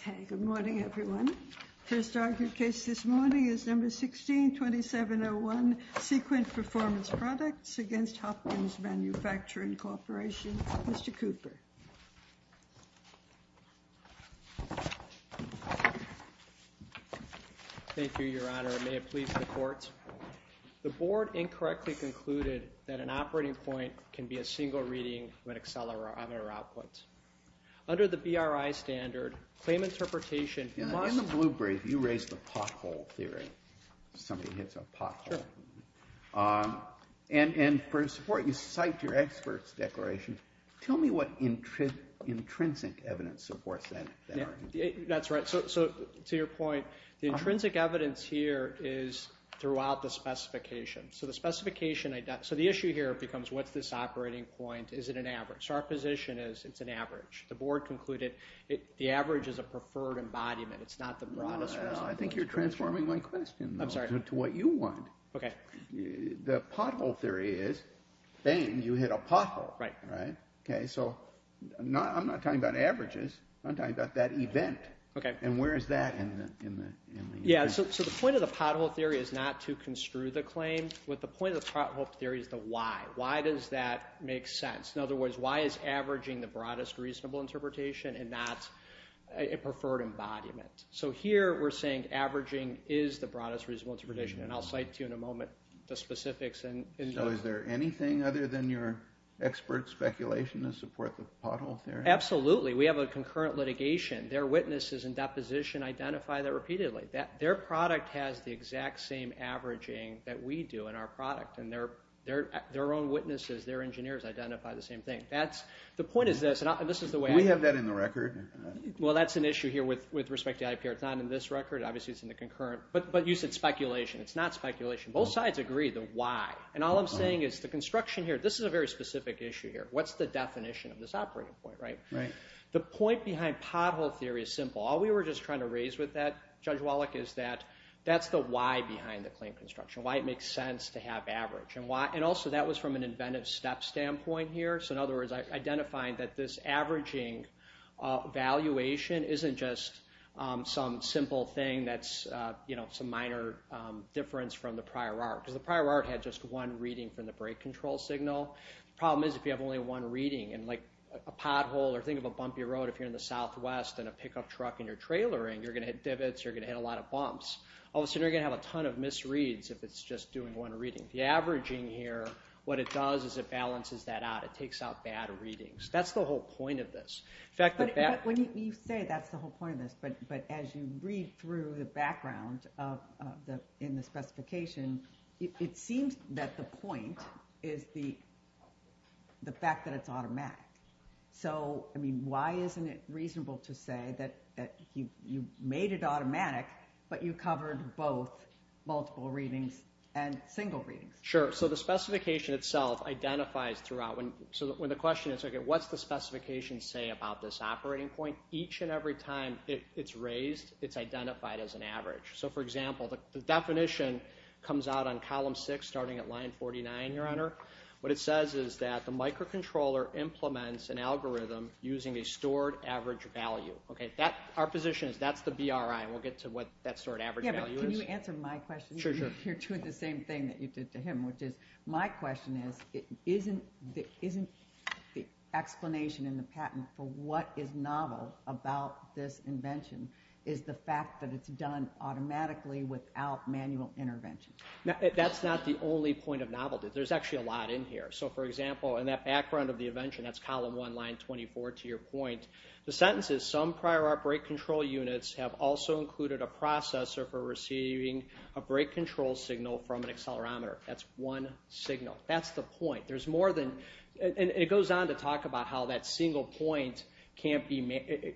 Okay, good morning everyone. First argued case this morning is number 16-2701 Sequent Performance Products against Hopkins Manufacturing Corporation. Mr. Cooper. Thank you, Your Honor. May it please the court. The board incorrectly concluded that an operating point can be a single reading when accelerated on our outputs. Under the BRI standard, claim interpretation... In the blue brief, you raised the pothole theory. Somebody hits a pothole. Sure. And for support, you cite your experts declaration. Tell me what intrinsic evidence supports that. That's right. So to your point, the intrinsic evidence here is throughout the specification. So the specification... So the issue here becomes what's this is an average. The board concluded the average is a preferred embodiment. It's not the broadest resolution. I think you're transforming my question to what you want. Okay. The pothole theory is, bang, you hit a pothole. Right. Okay, so I'm not talking about averages. I'm talking about that event. Okay. And where is that in the... Yeah, so the point of the pothole theory is not to construe the claim, but the point of the pothole theory is the why. Why does that make sense? In other words, why is averaging the broadest reasonable interpretation and not a preferred embodiment? So here, we're saying averaging is the broadest reasonable interpretation, and I'll cite to you in a moment the specifics. So is there anything other than your expert speculation to support the pothole theory? Absolutely. We have a concurrent litigation. Their witnesses in deposition identify that repeatedly. Their product has the exact same averaging that we do in our product, and their own witnesses, their own witnesses. The point is this, and this is the way... Do we have that in the record? Well, that's an issue here with respect to IPR. It's not in this record. Obviously, it's in the concurrent. But you said speculation. It's not speculation. Both sides agree the why, and all I'm saying is the construction here. This is a very specific issue here. What's the definition of this operating point, right? Right. The point behind pothole theory is simple. All we were just trying to raise with that, Judge Wallach, is that that's the why behind the claim construction. Why it makes sense to have average, and also that was from an inventive step standpoint here. So in other words, identifying that this averaging valuation isn't just some simple thing that's some minor difference from the prior art. Because the prior art had just one reading from the brake control signal. Problem is, if you have only one reading, and like a pothole, or think of a bumpy road, if you're in the southwest in a pickup truck and you're trailering, you're going to hit divots, you're going to hit a lot of bumps. All of a sudden, you're going to have a ton of misreads if it's just doing one reading. The averaging here, what it does is it balances that out. It takes out bad readings. That's the whole point of this. In fact, when you say that's the whole point of this, but as you read through the background in the specification, it seems that the point is the fact that it's automatic. So, I mean, why isn't it reasonable to say that you made it automatic, but you covered both multiple readings and single readings? Sure. So, the specification itself identifies throughout. So, when the question is, okay, what's the specification say about this operating point? Each and every time it's raised, it's identified as an average. So, for example, the definition comes out on column 6 starting at line 49, Your Honor. What it says is that the microcontroller implements an algorithm using a stored average value. Okay, that our position is that's the BRI. We'll get to what that stored average value is. Can you answer my question? Sure, sure. You're doing the same thing that you did to him, which is, my question is, isn't the explanation in the patent for what is novel about this invention is the fact that it's done automatically without manual intervention? That's not the only point of novelty. There's actually a lot in here. So, for example, in that background of the invention, that's column 1, line 24, to your point, the sentence is, some prior outbreak control units have also break control signal from an accelerometer. That's one signal. That's the point. There's more than, and it goes on to talk about how that single point can't be,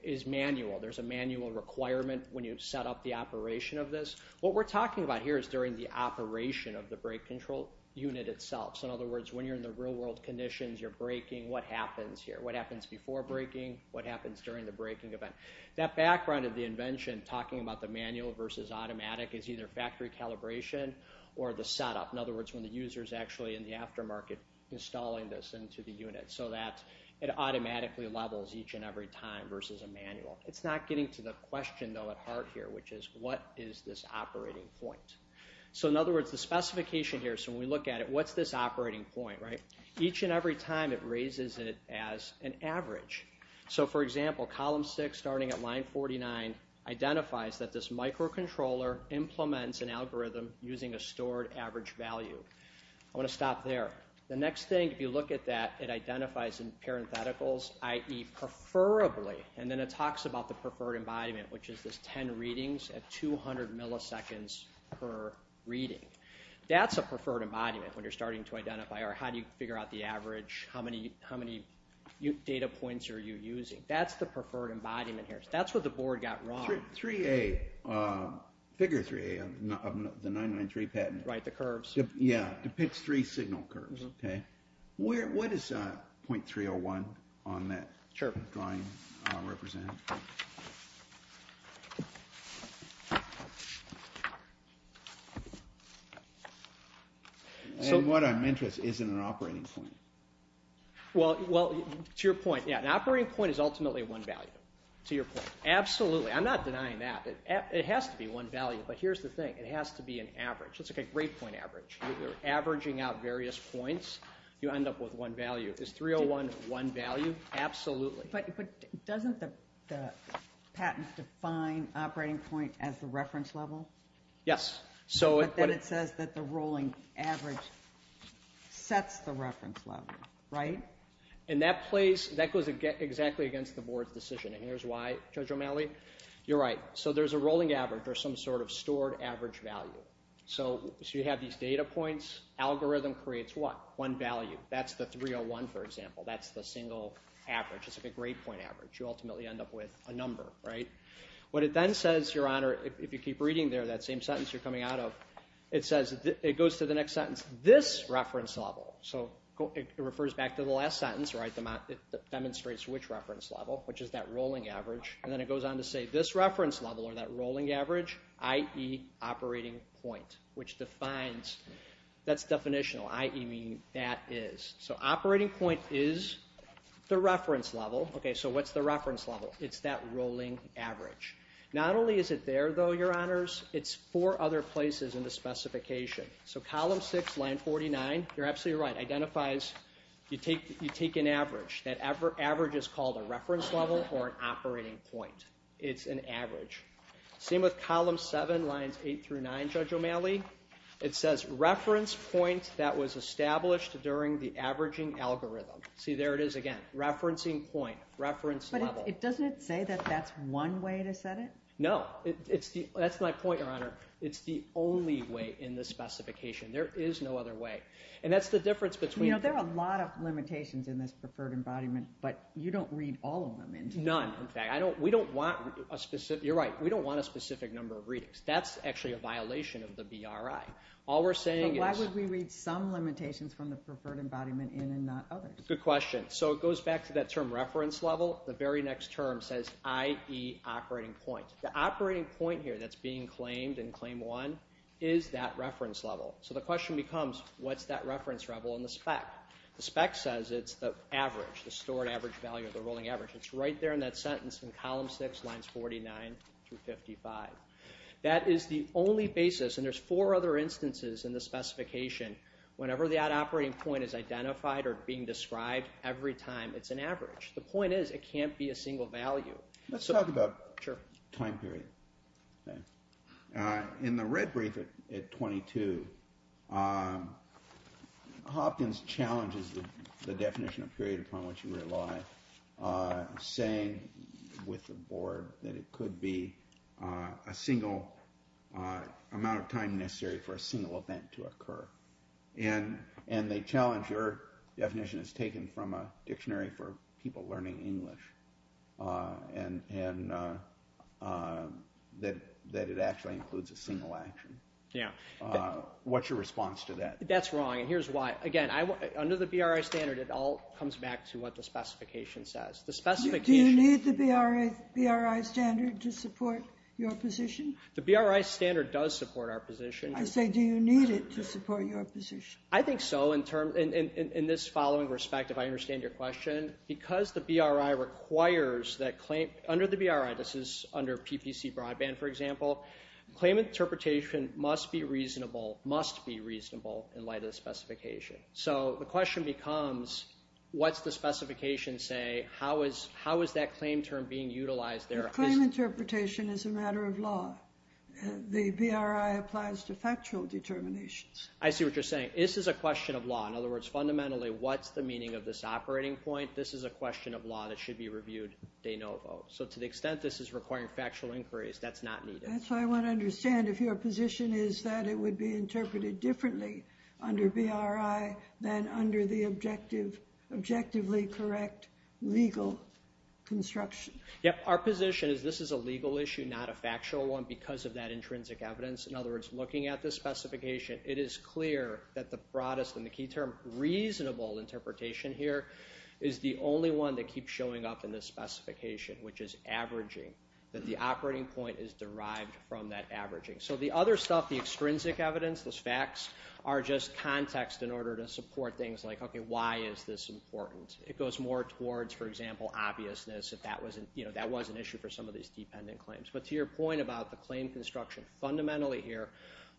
is manual. There's a manual requirement when you've set up the operation of this. What we're talking about here is during the operation of the brake control unit itself. So, in other words, when you're in the real world conditions, you're braking, what happens here? What happens before braking? What happens during the braking event? That background of the invention, talking about the manual versus automatic, is either factory calibration or the setup. In other words, when the user is actually in the aftermarket installing this into the unit, so that it automatically levels each and every time versus a manual. It's not getting to the question, though, at heart here, which is what is this operating point? So, in other words, the specification here, so when we look at it, what's this operating point, right? Each and every time it raises it as an microcontroller implements an algorithm using a stored average value. I want to stop there. The next thing, if you look at that, it identifies in parentheticals, i.e. preferably, and then it talks about the preferred embodiment, which is this 10 readings at 200 milliseconds per reading. That's a preferred embodiment when you're starting to identify, or how do you figure out the average? How many, how many data points are you using? That's the preferred embodiment here. That's what the board got wrong. 3A, figure 3A of the 993 patent. Right, the curves. Yeah, depicts three signal curves, okay? What is 0.301 on that drawing represented? And what I'm interested in isn't an operating point. Well, to your point, yeah, an operating point is ultimately one value. To your point, absolutely. I'm not denying that. It has to be one value, but here's the thing. It has to be an average. It's like a grade point average. You're averaging out various points, you end up with one value. Is 301 one value? Absolutely. But doesn't the patent define operating point as the reference level? Yes. So, it says that the board's decision, and here's why, Judge O'Malley. You're right. So, there's a rolling average, or some sort of stored average value. So, you have these data points. Algorithm creates what? One value. That's the 301, for example. That's the single average. It's like a grade point average. You ultimately end up with a number, right? What it then says, Your Honor, if you keep reading there, that same sentence you're coming out of, it says, it goes to the next sentence, this reference level. So, it refers back to the last sentence, right? It demonstrates which reference level, which is that rolling average, and then it goes on to say this reference level, or that rolling average, i.e. operating point, which defines, that's definitional, i.e. meaning that is. So, operating point is the reference level. Okay, so what's the reference level? It's that rolling average. Not only is it there, though, Your Honors, it's four other places in the specification. So, column six, line 49, you're absolutely right, identifies, you take an average. That average is called a reference level, or an operating point. It's an average. Same with column seven, lines eight through nine, Judge O'Malley. It says, reference point that was established during the averaging algorithm. See, there it is again. Referencing point. Reference level. But it doesn't say that that's one way to set it? No. It's the, that's my point, Your Honor. It's the only way in this specification. There is no other way. And that's the difference between. You know, there are a lot of limitations in this preferred embodiment, but you don't read all of them. None, in fact. I don't, we don't want a specific, you're right, we don't want a specific number of readings. That's actually a violation of the BRI. All we're saying is. Why would we read some limitations from the preferred embodiment in and not others? Good question. So, it goes back to that term, reference level. The very next term says, i.e. operating point. The operating point here, that's being claimed in claim one, is that reference level. So the question becomes, what's that reference level in the spec? The spec says it's the average, the stored average value of the rolling average. It's right there in that sentence in column six, lines 49 through 55. That is the only basis, and there's four other instances in the specification, whenever that operating point is identified or being described, every time it's an average. The point is, it can't be a single value. Let's talk about. Sure. Time period. In the red brief at 22, Hopkins challenges the definition of period upon which you rely, saying with the board that it could be a single amount of time necessary for a single event to occur. And, and they challenge your definition as taken from a dictionary for people learning English, and, and that, that it actually includes a single action. Yeah. What's your response to that? That's wrong, and here's why. Again, I, under the BRI standard, it all comes back to what the specification says. The specification... Do you need the BRI standard to support your position? The BRI standard does support our position. I say, do you need it to support your position? I think so, in terms, in, in, in this following respect, if I understand your question, because the BRI requires that claim, under the BRI, this is under PPC broadband, for example, claim interpretation must be reasonable, must be reasonable, in light of the specification. So, the question becomes, what's the specification say? How is, how is that claim term being utilized there? Claim interpretation is a matter of law. The BRI applies to factual determinations. I see what you're saying. This is a question of law. In other words, fundamentally, what's the meaning of this operating point? This is a question of law that should be reviewed de novo. So, to the extent this is requiring factual inquiries, that's not needed. That's why I want to understand if your position is that it would be interpreted differently under BRI than under the objective, objectively correct legal construction. Yep, our position is this is a legal issue, not a factual one, because of that intrinsic evidence. In other words, looking at this specification, it is clear that the broadest and the key term, reasonable interpretation here, is the only one that keeps showing up in this specification, which is averaging, that the operating point is derived from that averaging. So, the other stuff, the extrinsic evidence, those facts, are just context in order to support things like, okay, why is this important? It goes more towards, for example, obviousness, if that was an issue for some of these dependent claims. But to your point about the claim construction, fundamentally here,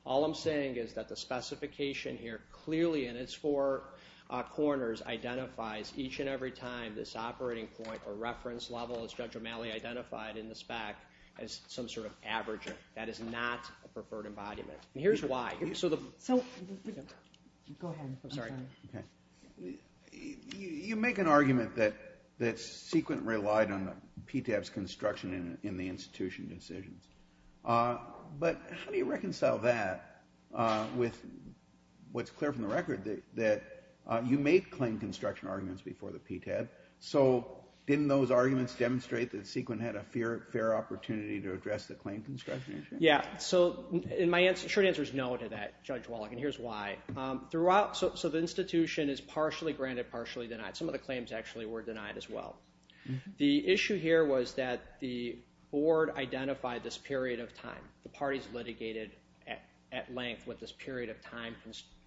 all I'm saying is that the specification here clearly, in its four corners, identifies each and every time this operating point or reference level, as Judge O'Malley identified in the spec, as some sort of averaging. That is not a preferred embodiment. Here's why. So, you make an PTAB's construction in the institution decisions. But how do you reconcile that with what's clear from the record, that you make claim construction arguments before the PTAB. So, didn't those arguments demonstrate that Sequin had a fair opportunity to address the claim construction issue? Yeah. So, my short answer is no to that, Judge Wallach, and here's why. Throughout, so the institution is partially granted, partially denied. Some of the claims actually were denied as well. The issue here was that the board identified this period of time. The parties litigated at length what this period of time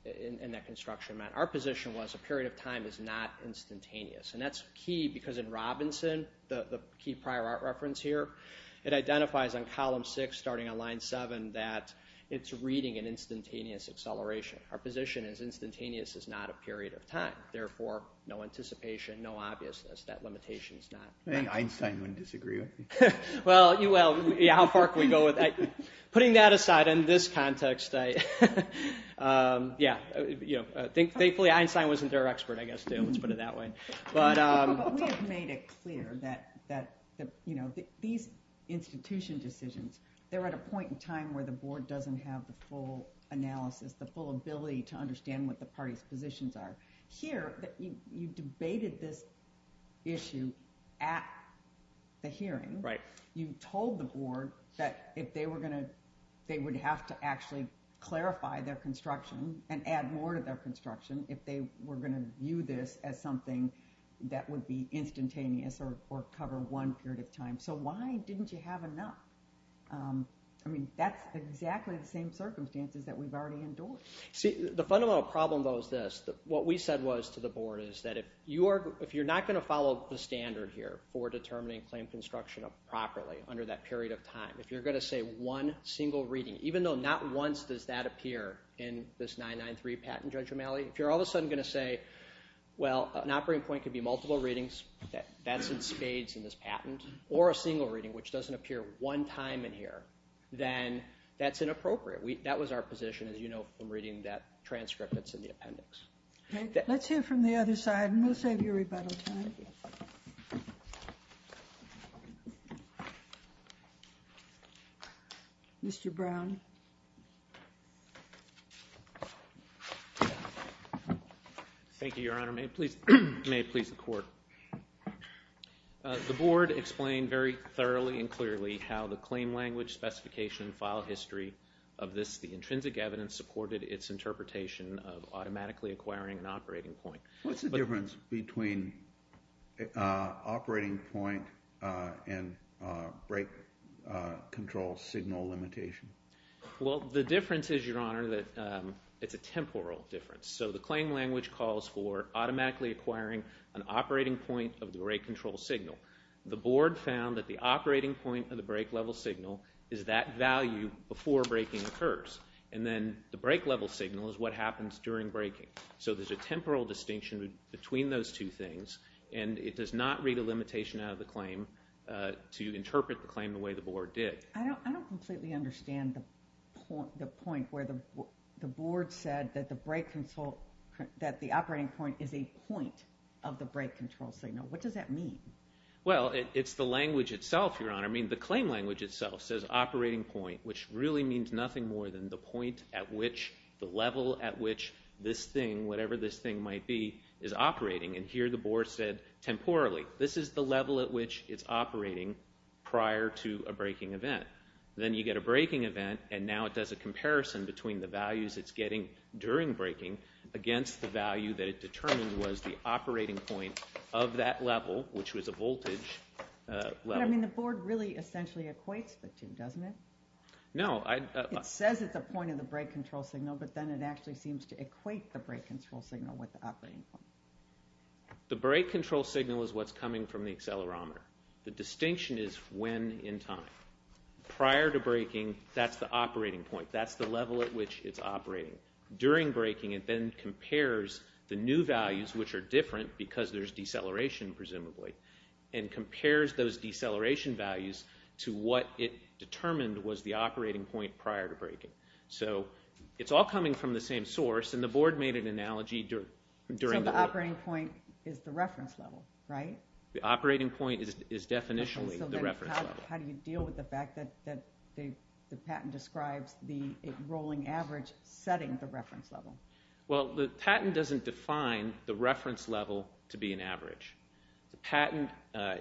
in that construction meant. Our position was a period of time is not instantaneous, and that's key because in Robinson, the key prior art reference here, it identifies on column six, starting on line seven, that it's reading an instantaneous acceleration. Our position is instantaneous is not a period of time. Therefore, no anticipation, no obviousness, that limitation is not. I think Einstein wouldn't disagree with you. Well, you will. Yeah, how far can we go with that? Putting that aside, in this context, I, yeah, you know, thankfully Einstein wasn't their expert, I guess, too. Let's put it that way. But we've made it clear that, you know, these institution decisions, they're at a point in time where the board doesn't have the full analysis, the full ability to understand what the party's positions are. Here, you debated this issue at the hearing. Right. You told the board that if they were gonna, they would have to actually clarify their construction and add more to their construction if they were gonna view this as something that would be instantaneous or cover one period of time. So why didn't you have enough? I mean, that's exactly the same circumstances that we've already endured. See, the fundamental problem, though, is this. What we said was to the board is that if you are, if you're not going to follow the standard here for determining claim construction properly under that period of time, if you're gonna say one single reading, even though not once does that appear in this 993 patent, Judge O'Malley, if you're all of a sudden gonna say, well, an operating point could be multiple readings, that's in spades in this patent, or a single reading which doesn't appear one time in here, then that's inappropriate. That was our position, as you know from reading that transcript that's in the appendix. Okay, let's hear from the other side, and we'll save you rebuttal time. Mr. Brown. Thank you, Your Honor. May it please the court. The board explained very thoroughly and clearly how the claim language specification file history of this, the intrinsic evidence, supported its interpretation of automatically acquiring an operating point. What's the difference between operating point and break control signal limitation? Well, the difference is, Your Honor, that it's a temporal difference. So the claim language calls for automatically acquiring an operating point of the rate control signal. The board found that the operating point of the break level signal is that value before breaking occurs, and then the break level signal is what happens during breaking. So there's a temporal distinction between those two things, and it does not read a limitation out of the claim to interpret the claim the way the board did. I don't completely understand the point where the board said that the break control, that the operating point is a point of the break control signal. What does that mean? Well, it's the language itself, Your Honor. I mean, the really means nothing more than the point at which the level at which this thing, whatever this thing might be, is operating. And here the board said temporally, this is the level at which it's operating prior to a breaking event. Then you get a breaking event, and now it does a comparison between the values it's getting during breaking against the value that it determined was the operating point of that level, which was a voltage level. I mean, the board really essentially equates the two, doesn't it? No. It says it's a point of the break control signal, but then it actually seems to equate the break control signal with the operating point. The break control signal is what's coming from the accelerometer. The distinction is when in time. Prior to breaking, that's the operating point. That's the level at which it's operating. During breaking, it then compares the new values, which are different because there's deceleration, presumably, and compares those deceleration values to what it determined was the operating point prior to breaking. So it's all coming from the same source, and the board made an analogy during the... So the operating point is the reference level, right? The operating point is definitionally the reference level. How do you deal with the fact that the patent describes the rolling average setting the reference level? Well, the patent doesn't define the reference level to be an average. The patent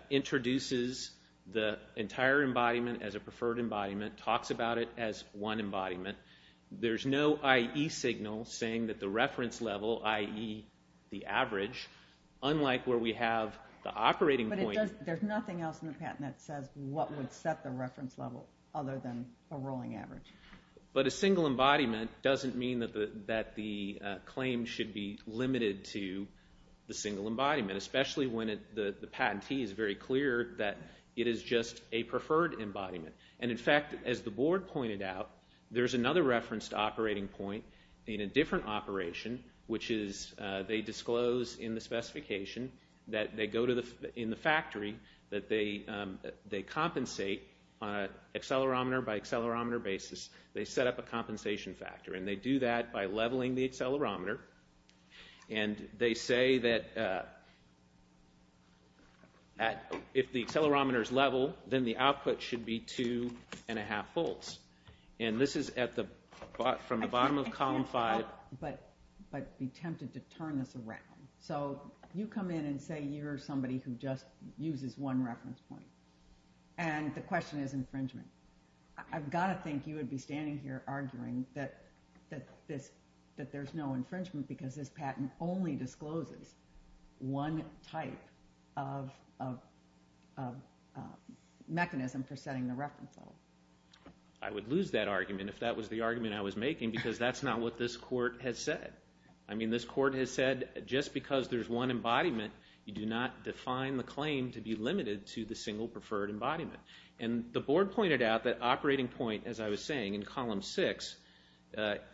introduces the entire embodiment as a preferred embodiment, talks about it as one embodiment. There's no IE signal saying that the reference level, IE the average, unlike where we have the operating point... But there's nothing else in the patent that says what would set the reference level other than a rolling average. But a single embodiment doesn't mean that the claim should be limited to the single embodiment, especially when the patentee is very clear that it is just a preferred embodiment. And in fact, as the board pointed out, there's another reference to operating point in a different operation, which is they disclose in the specification that they go to the in the factory, that they compensate on an accelerometer by leveling the accelerometer. And they say that if the accelerometer is level, then the output should be two and a half volts. And this is at the bottom of column five. But be tempted to turn this around. So you come in and say you're somebody who just uses one reference point. And the question is infringement. I've got to think you would be standing here arguing that there's no infringement because this patent only discloses one type of mechanism for setting the reference level. I would lose that argument if that was the argument I was making, because that's not what this court has said. I mean, this court has said just because there's one embodiment, you do not define the claim to be out that operating point, as I was saying, in column six,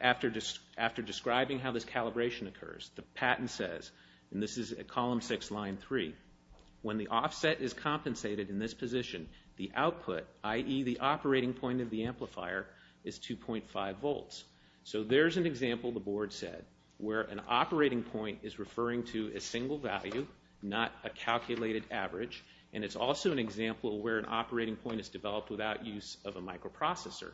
after describing how this calibration occurs, the patent says, and this is a column six line three, when the offset is compensated in this position, the output, i.e. the operating point of the amplifier, is 2.5 volts. So there's an example, the board said, where an operating point is referring to a single value, not a calculated average. And it's also an example where an operating point is the sequence of a microprocessor,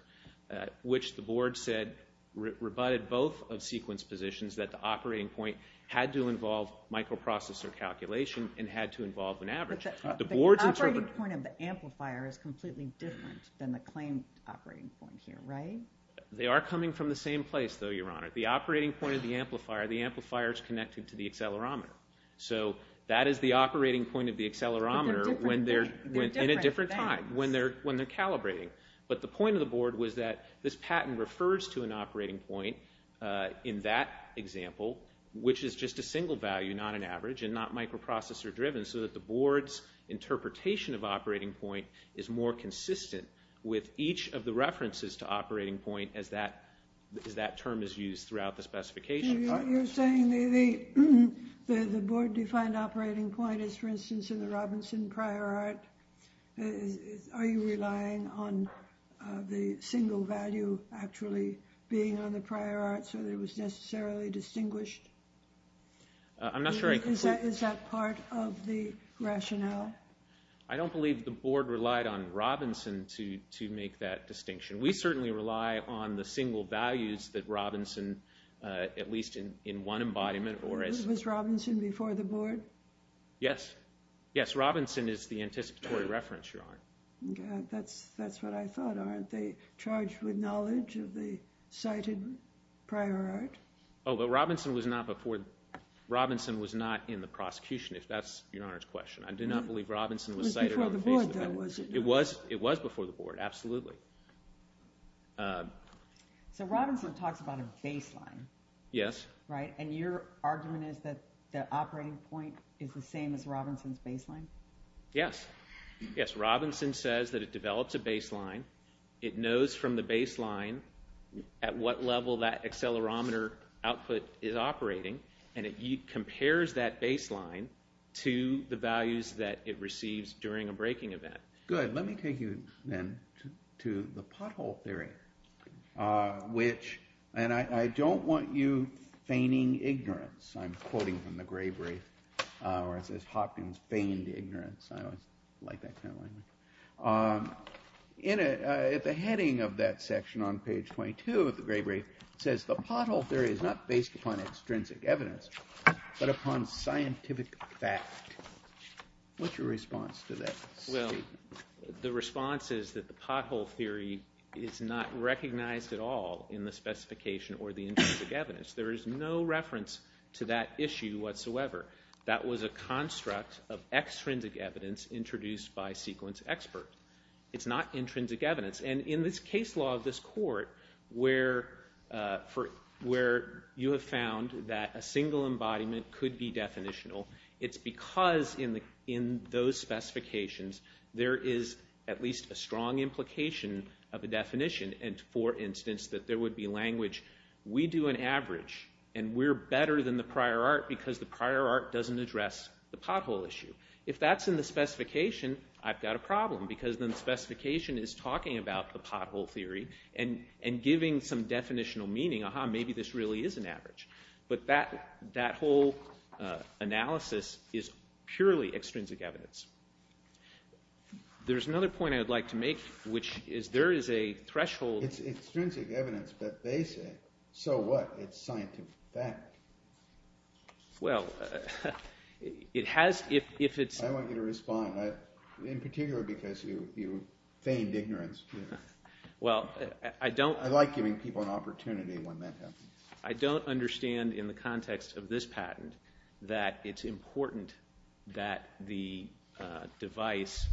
which the board said rebutted both of sequence positions that the operating point had to involve microprocessor calculation and had to involve an average. The operating point of the amplifier is completely different than the claim operating point here, right? They are coming from the same place, though, Your Honor. The operating point of the amplifier, the amplifier is connected to the accelerometer. So that is the operating point of the accelerometer when they're, in a different time, when they're, when they're calibrating. But the point of the board was that this patent refers to an operating point in that example, which is just a single value, not an average, and not microprocessor driven, so that the board's interpretation of operating point is more consistent with each of the references to operating point as that, as that term is used throughout the specification. You're saying the, the, the, the board defined operating point is, for instance, in the Robinson prior art, is, is, are you relying on the single value actually being on the prior art so that it was necessarily distinguished? I'm not sure I complete... Is that, is that part of the rationale? I don't believe the board relied on Robinson to, to make that distinction. We certainly rely on the single values that Robinson, at least in, in one embodiment, or as... Was Robinson before the board? Yes. Yes, Robinson is the anticipatory reference, Your Honor. That's, that's what I thought, aren't they charged with knowledge of the cited prior art? Oh, but Robinson was not before... Robinson was not in the prosecution, if that's Your Honor's question. I do not believe Robinson was cited on the basis of... It was before the board, though, was it not? It was, it was before the board, absolutely. So Robinson talks about a operating point is the same as Robinson's baseline? Yes. Yes, Robinson says that it develops a baseline, it knows from the baseline at what level that accelerometer output is operating, and it compares that baseline to the values that it receives during a breaking event. Good. Let me take you then to the pothole theory, which, and I don't want you feigning ignorance, I'm quoting from the Gray Brief, where it says, Hopkins feigned ignorance. I always like that kind of language. In it, at the heading of that section on page 22 of the Gray Brief, it says, the pothole theory is not based upon extrinsic evidence, but upon scientific fact. What's your response to that statement? Well, the response is that the pothole theory is not recognized at all in the specification or the intrinsic evidence. There is no issue whatsoever. That was a construct of extrinsic evidence introduced by sequence experts. It's not intrinsic evidence. And in this case law of this court, where you have found that a single embodiment could be definitional, it's because in those specifications, there is at least a strong implication of a definition. And for instance, that there would be an average, and we're better than the prior art because the prior art doesn't address the pothole issue. If that's in the specification, I've got a problem, because the specification is talking about the pothole theory and giving some definitional meaning, aha, maybe this really is an average. But that whole analysis is purely extrinsic evidence. There's another point I'd like to make, which is there is a threshold. It's extrinsic evidence, but they say, so what? It's scientific fact. Well, it has, if it's... I want you to respond, in particular because you feigned ignorance. Well, I don't... I like giving people an opportunity when that happens. I don't understand in the context of this patent that it's important that the device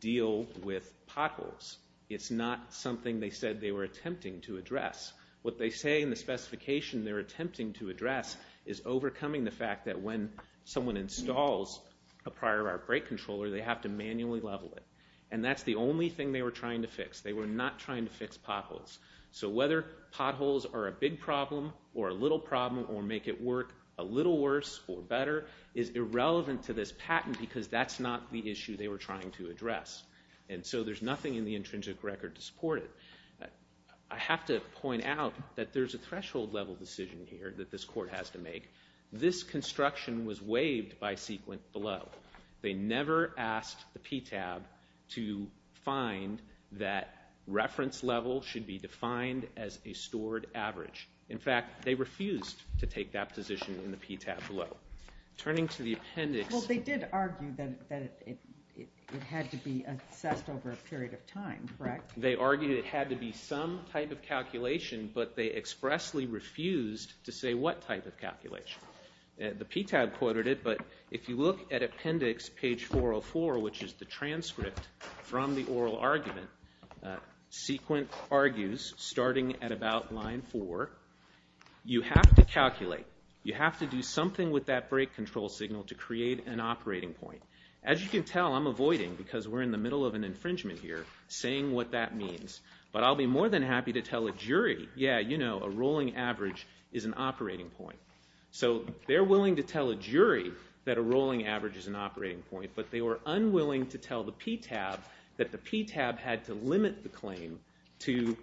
deal with potholes. It's not something they said they were attempting to address. What they say in the specification they're attempting to address is overcoming the fact that when someone installs a prior art brake controller, they have to manually level it. And that's the only thing they were trying to fix. They were not trying to fix potholes. So whether potholes are a big problem or a little problem or make it work a little worse or better is irrelevant to this patent, because that's not the issue they were trying to address. And so there's nothing in the intrinsic record to support it. I have to point out that there's a threshold level decision here that this court has to make. This construction was waived by Sequin below. They never asked the PTAB to find that reference level should be defined as a stored average. In fact, they refused to take that position in the PTAB below. Turning to the appendix... Well, they did argue that it had to be assessed over a period of time, correct? They argued it had to be some type of calculation, but they expressly refused to say what type of calculation. The PTAB quoted it, but if you look at appendix page 404, which is the transcript from the oral argument, Sequin argues, starting at about line 4, you have to do something with that break control signal to create an operating point. As you can tell, I'm avoiding, because we're in the middle of an infringement here, saying what that means. But I'll be more than happy to tell a jury, yeah, you know, a rolling average is an operating point. So they're willing to tell a jury that a rolling average is an operating point, but they were unwilling to tell the PTAB that the PTAB had to limit the claim to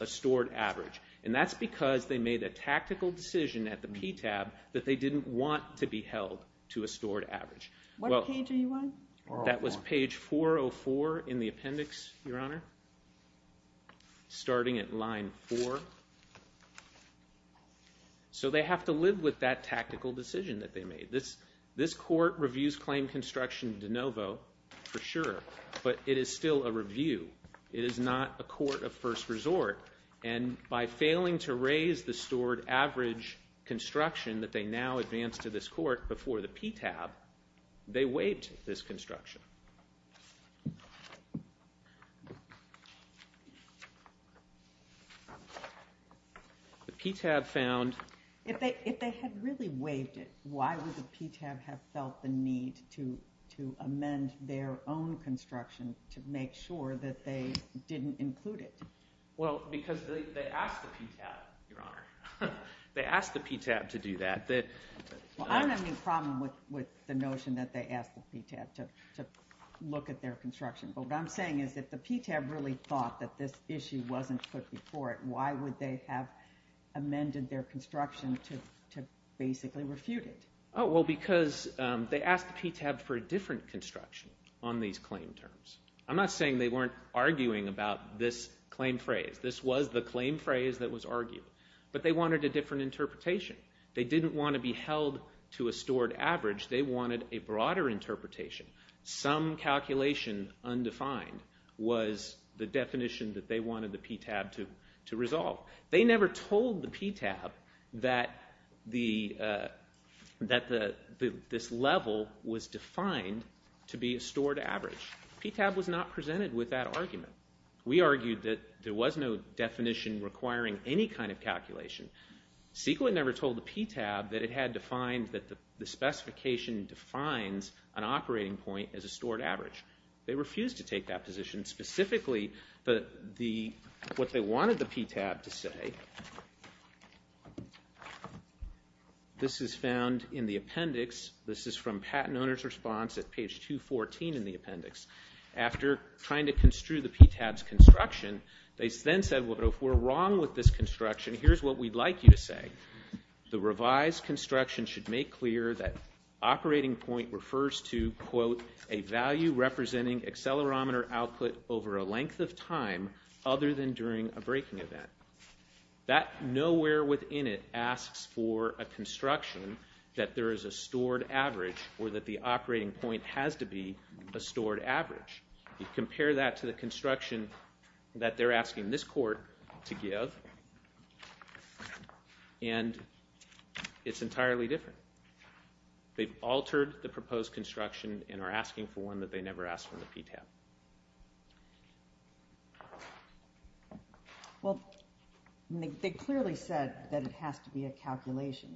a stored average. And that's because they made a tactical decision at the PTAB that they didn't want to be held to a stored average. What page are you on? That was page 404 in the appendix, Your Honor, starting at line 4. So they have to live with that tactical decision that they made. This court reviews claim construction de novo, for sure, but it is still a review. It is not a court of first resort, and by failing to raise the stored average construction that they now advance to this court before the PTAB, they waived this construction. The PTAB found... If they had really waived it, why would the PTAB have felt the need to amend their own construction to make sure that they didn't include it? Well, because they asked the PTAB, Your Honor. They asked the PTAB to do that. Well, I don't have any problem with the notion that they asked the PTAB to look at their construction, but what I'm saying is if the PTAB really thought that this issue wasn't put before it, why would they have amended their construction to basically refute it? Oh, well, because they asked the PTAB for a different construction on these claim terms. I'm not saying they weren't arguing about this claim phrase. This was the claim phrase that was argued, but they wanted a different interpretation. They didn't want to be held to a stored average. They wanted a broader interpretation. Some calculation undefined was the definition that they wanted the PTAB to resolve. They never told the PTAB that this level was defined to be a stored average. The PTAB was not presented with that argument. We argued that there was no definition requiring any kind of calculation. CEQA never told the PTAB that it had to find that the specification defines an operating point as a stored average. They refused to take that position. Specifically, what they wanted the PTAB to say, this is found in the appendix. This is from Patent Owners Response at page 214 in the appendix. After trying to construe the PTAB's construction, they then said, well, if we're wrong with this construction, here's what we'd like you to say. The revised construction should make clear that operating point refers to, quote, a value representing accelerometer output over a length of time other than during a braking event. That nowhere within it asks for a construction that there is a stored average or that the operating point has to be a stored average. You compare that to the construction that they're asking this court to give, and it's entirely different. They've altered the proposed construction and are asking for one that they never asked from the PTAB. Well, they clearly said that it has to be a calculation.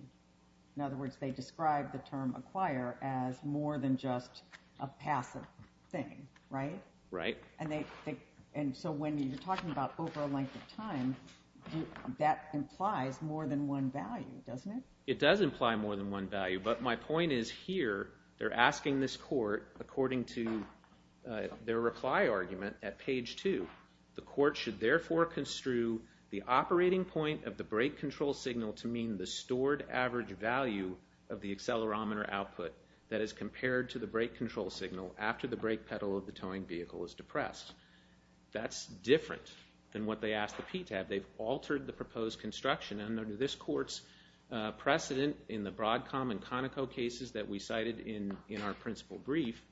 In other words, they describe the term acquire as more than just a passive thing, right? Right. And they, and so when you're talking about over a length of time, that implies more than one value, doesn't it? It does imply more than one value, but my point is here, they're asking this court, according to their reply argument at page two, the court should therefore construe the operating point of the brake control signal to mean the stored average value of the accelerometer output that is compared to the brake control signal after the brake pedal of the towing vehicle is depressed. That's different than what they asked the PTAB. They've altered the proposed construction, and under this court's precedent in the cited in in our principal brief,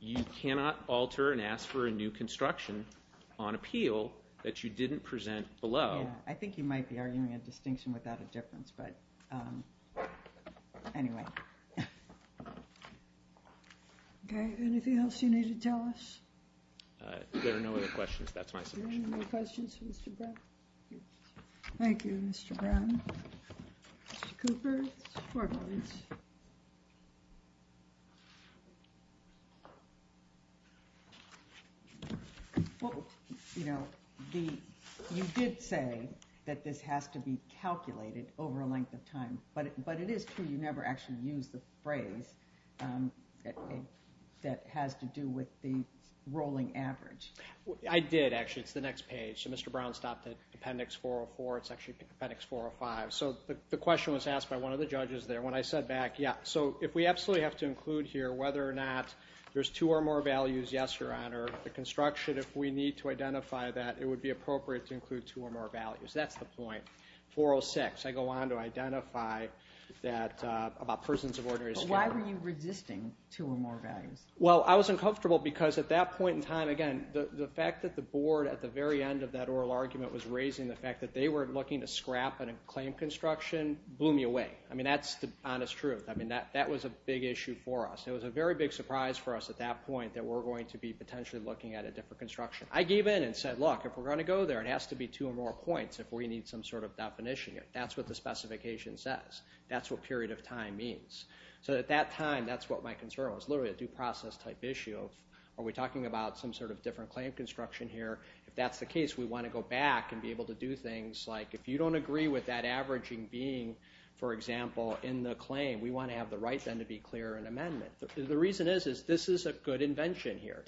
you cannot alter and ask for a new construction on appeal that you didn't present below. I think you might be arguing a distinction without a difference, but anyway. Okay, anything else? Well, you know, the, you did say that this has to be calculated over a length of time, but, but it is true you never actually use the phrase that has to do with the rolling average. I did, actually. It's the next page. Mr. Brown stopped at Appendix 404. It's actually Appendix 405. So the question was asked by one of the judges there. When I said back, yeah, so if we absolutely have to include here whether or not there's two or more values, yes, Your Honor, the construction, if we need to identify that, it would be appropriate to include two or more values. That's the point. 406, I go on to identify that, about prisons of order history. Why were you resisting two or more values? Well, I was uncomfortable because at that point in time, again, the fact that the board at the very end of that oral argument was raising the fact that they were looking to scrap a claim construction blew me away. I mean, that's the honest truth. I mean, that that was a big issue for us. It was a very big surprise for us at that point that we're going to be potentially looking at a different construction. I gave in and said, look, if we're going to go there, it has to be two or more points if we need some sort of definition here. That's what the specification says. That's what period of time means. So at that time, that's what my concern was. Literally, a due process type issue. Are we talking about some sort of different claim construction here? If that's the case, we want to go back and be able to do things like, if you don't agree with that averaging being, for example, in the claim, we want to have the right then to be clear in amendment. The reason is, is this is a good invention here.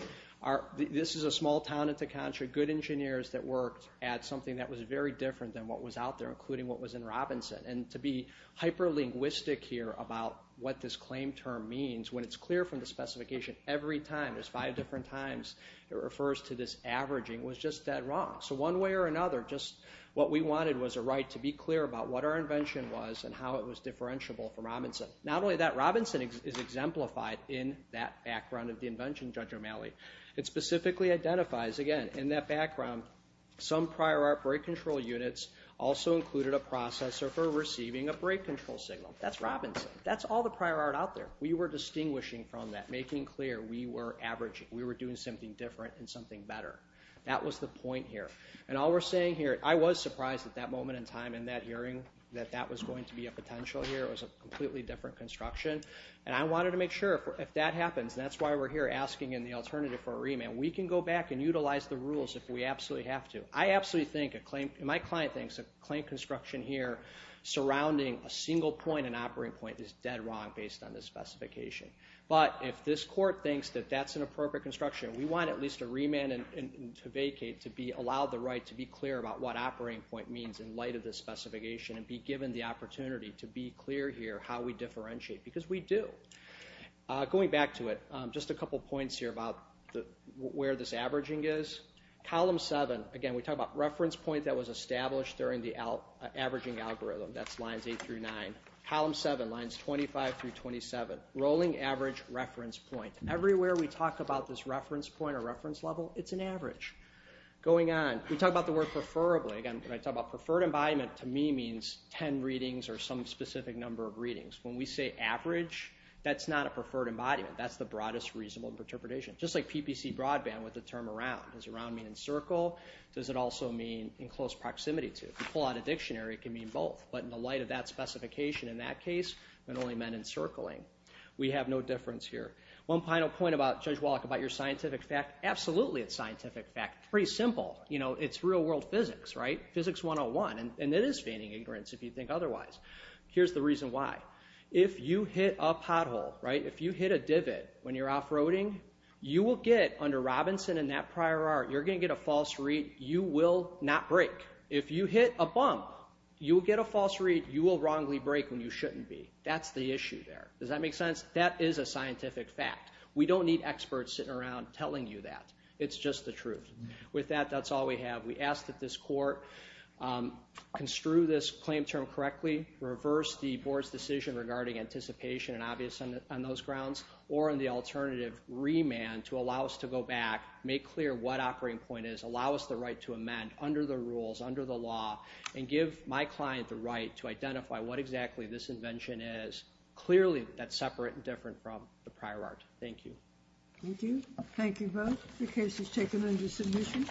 This is a small town at the country, good engineers that worked at something that was very different than what was out there, including what was in Robinson. And to be hyper linguistic here about what this claim term means, when it's clear from the specification every time, there's five different times it refers to this or another. Just what we wanted was a right to be clear about what our invention was and how it was differentiable for Robinson. Not only that, Robinson is exemplified in that background of the invention, Judge O'Malley. It specifically identifies, again, in that background, some prior art break control units also included a processor for receiving a break control signal. That's Robinson. That's all the prior art out there. We were distinguishing from that, making clear we were averaging. We were doing something different and something better. That was the point here. And all we're saying here, I was surprised at that moment in time in that hearing that that was going to be a potential here. It was a completely different construction. And I wanted to make sure if that happens, and that's why we're here asking in the alternative for a remand, we can go back and utilize the rules if we absolutely have to. I absolutely think, and my client thinks, a claim construction here surrounding a single point, an operating point, is dead wrong based on this specification. But if this court thinks that that's an appropriate construction, we want at least a remand to vacate to allow the clear about what operating point means in light of this specification and be given the opportunity to be clear here how we differentiate, because we do. Going back to it, just a couple points here about where this averaging is. Column 7, again, we talk about reference point that was established during the averaging algorithm. That's lines 8 through 9. Column 7, lines 25 through 27, rolling average reference point. Everywhere we talk about this reference point or reference level, it's an average. Going on, we talk about the word preferably. Again, when I talk about preferred embodiment, to me means 10 readings or some specific number of readings. When we say average, that's not a preferred embodiment. That's the broadest reasonable interpretation. Just like PPC broadband with the term around. Does around mean in circle? Does it also mean in close proximity to? To pull out a dictionary, it can mean both. But in the light of that specification in that case, it only meant encircling. We have no difference here. One final point about, Judge Wallach, about your scientific fact. Absolutely, it's scientific fact. Pretty simple. You know, it's real-world physics, right? Physics 101. And it is feigning ignorance, if you think otherwise. Here's the reason why. If you hit a pothole, right? If you hit a divot when you're off-roading, you will get, under Robinson and that prior art, you're gonna get a false read. You will not break. If you hit a bump, you will get a false read. You will wrongly break when you shouldn't be. That's the issue there. Does that make sense? That is a scientific fact. We don't need experts sitting around telling you that. It's just the truth. With that, that's all we have. We ask that this court construe this claim term correctly, reverse the board's decision regarding anticipation and obvious on those grounds, or in the alternative, remand to allow us to go back, make clear what operating point is, allow us the right to amend under the rules, under the law, and give my client the right to identify what exactly this invention is. Clearly, that's separate and different from the prior art. Thank you. Thank you. Thank you both. The case is taken under submission.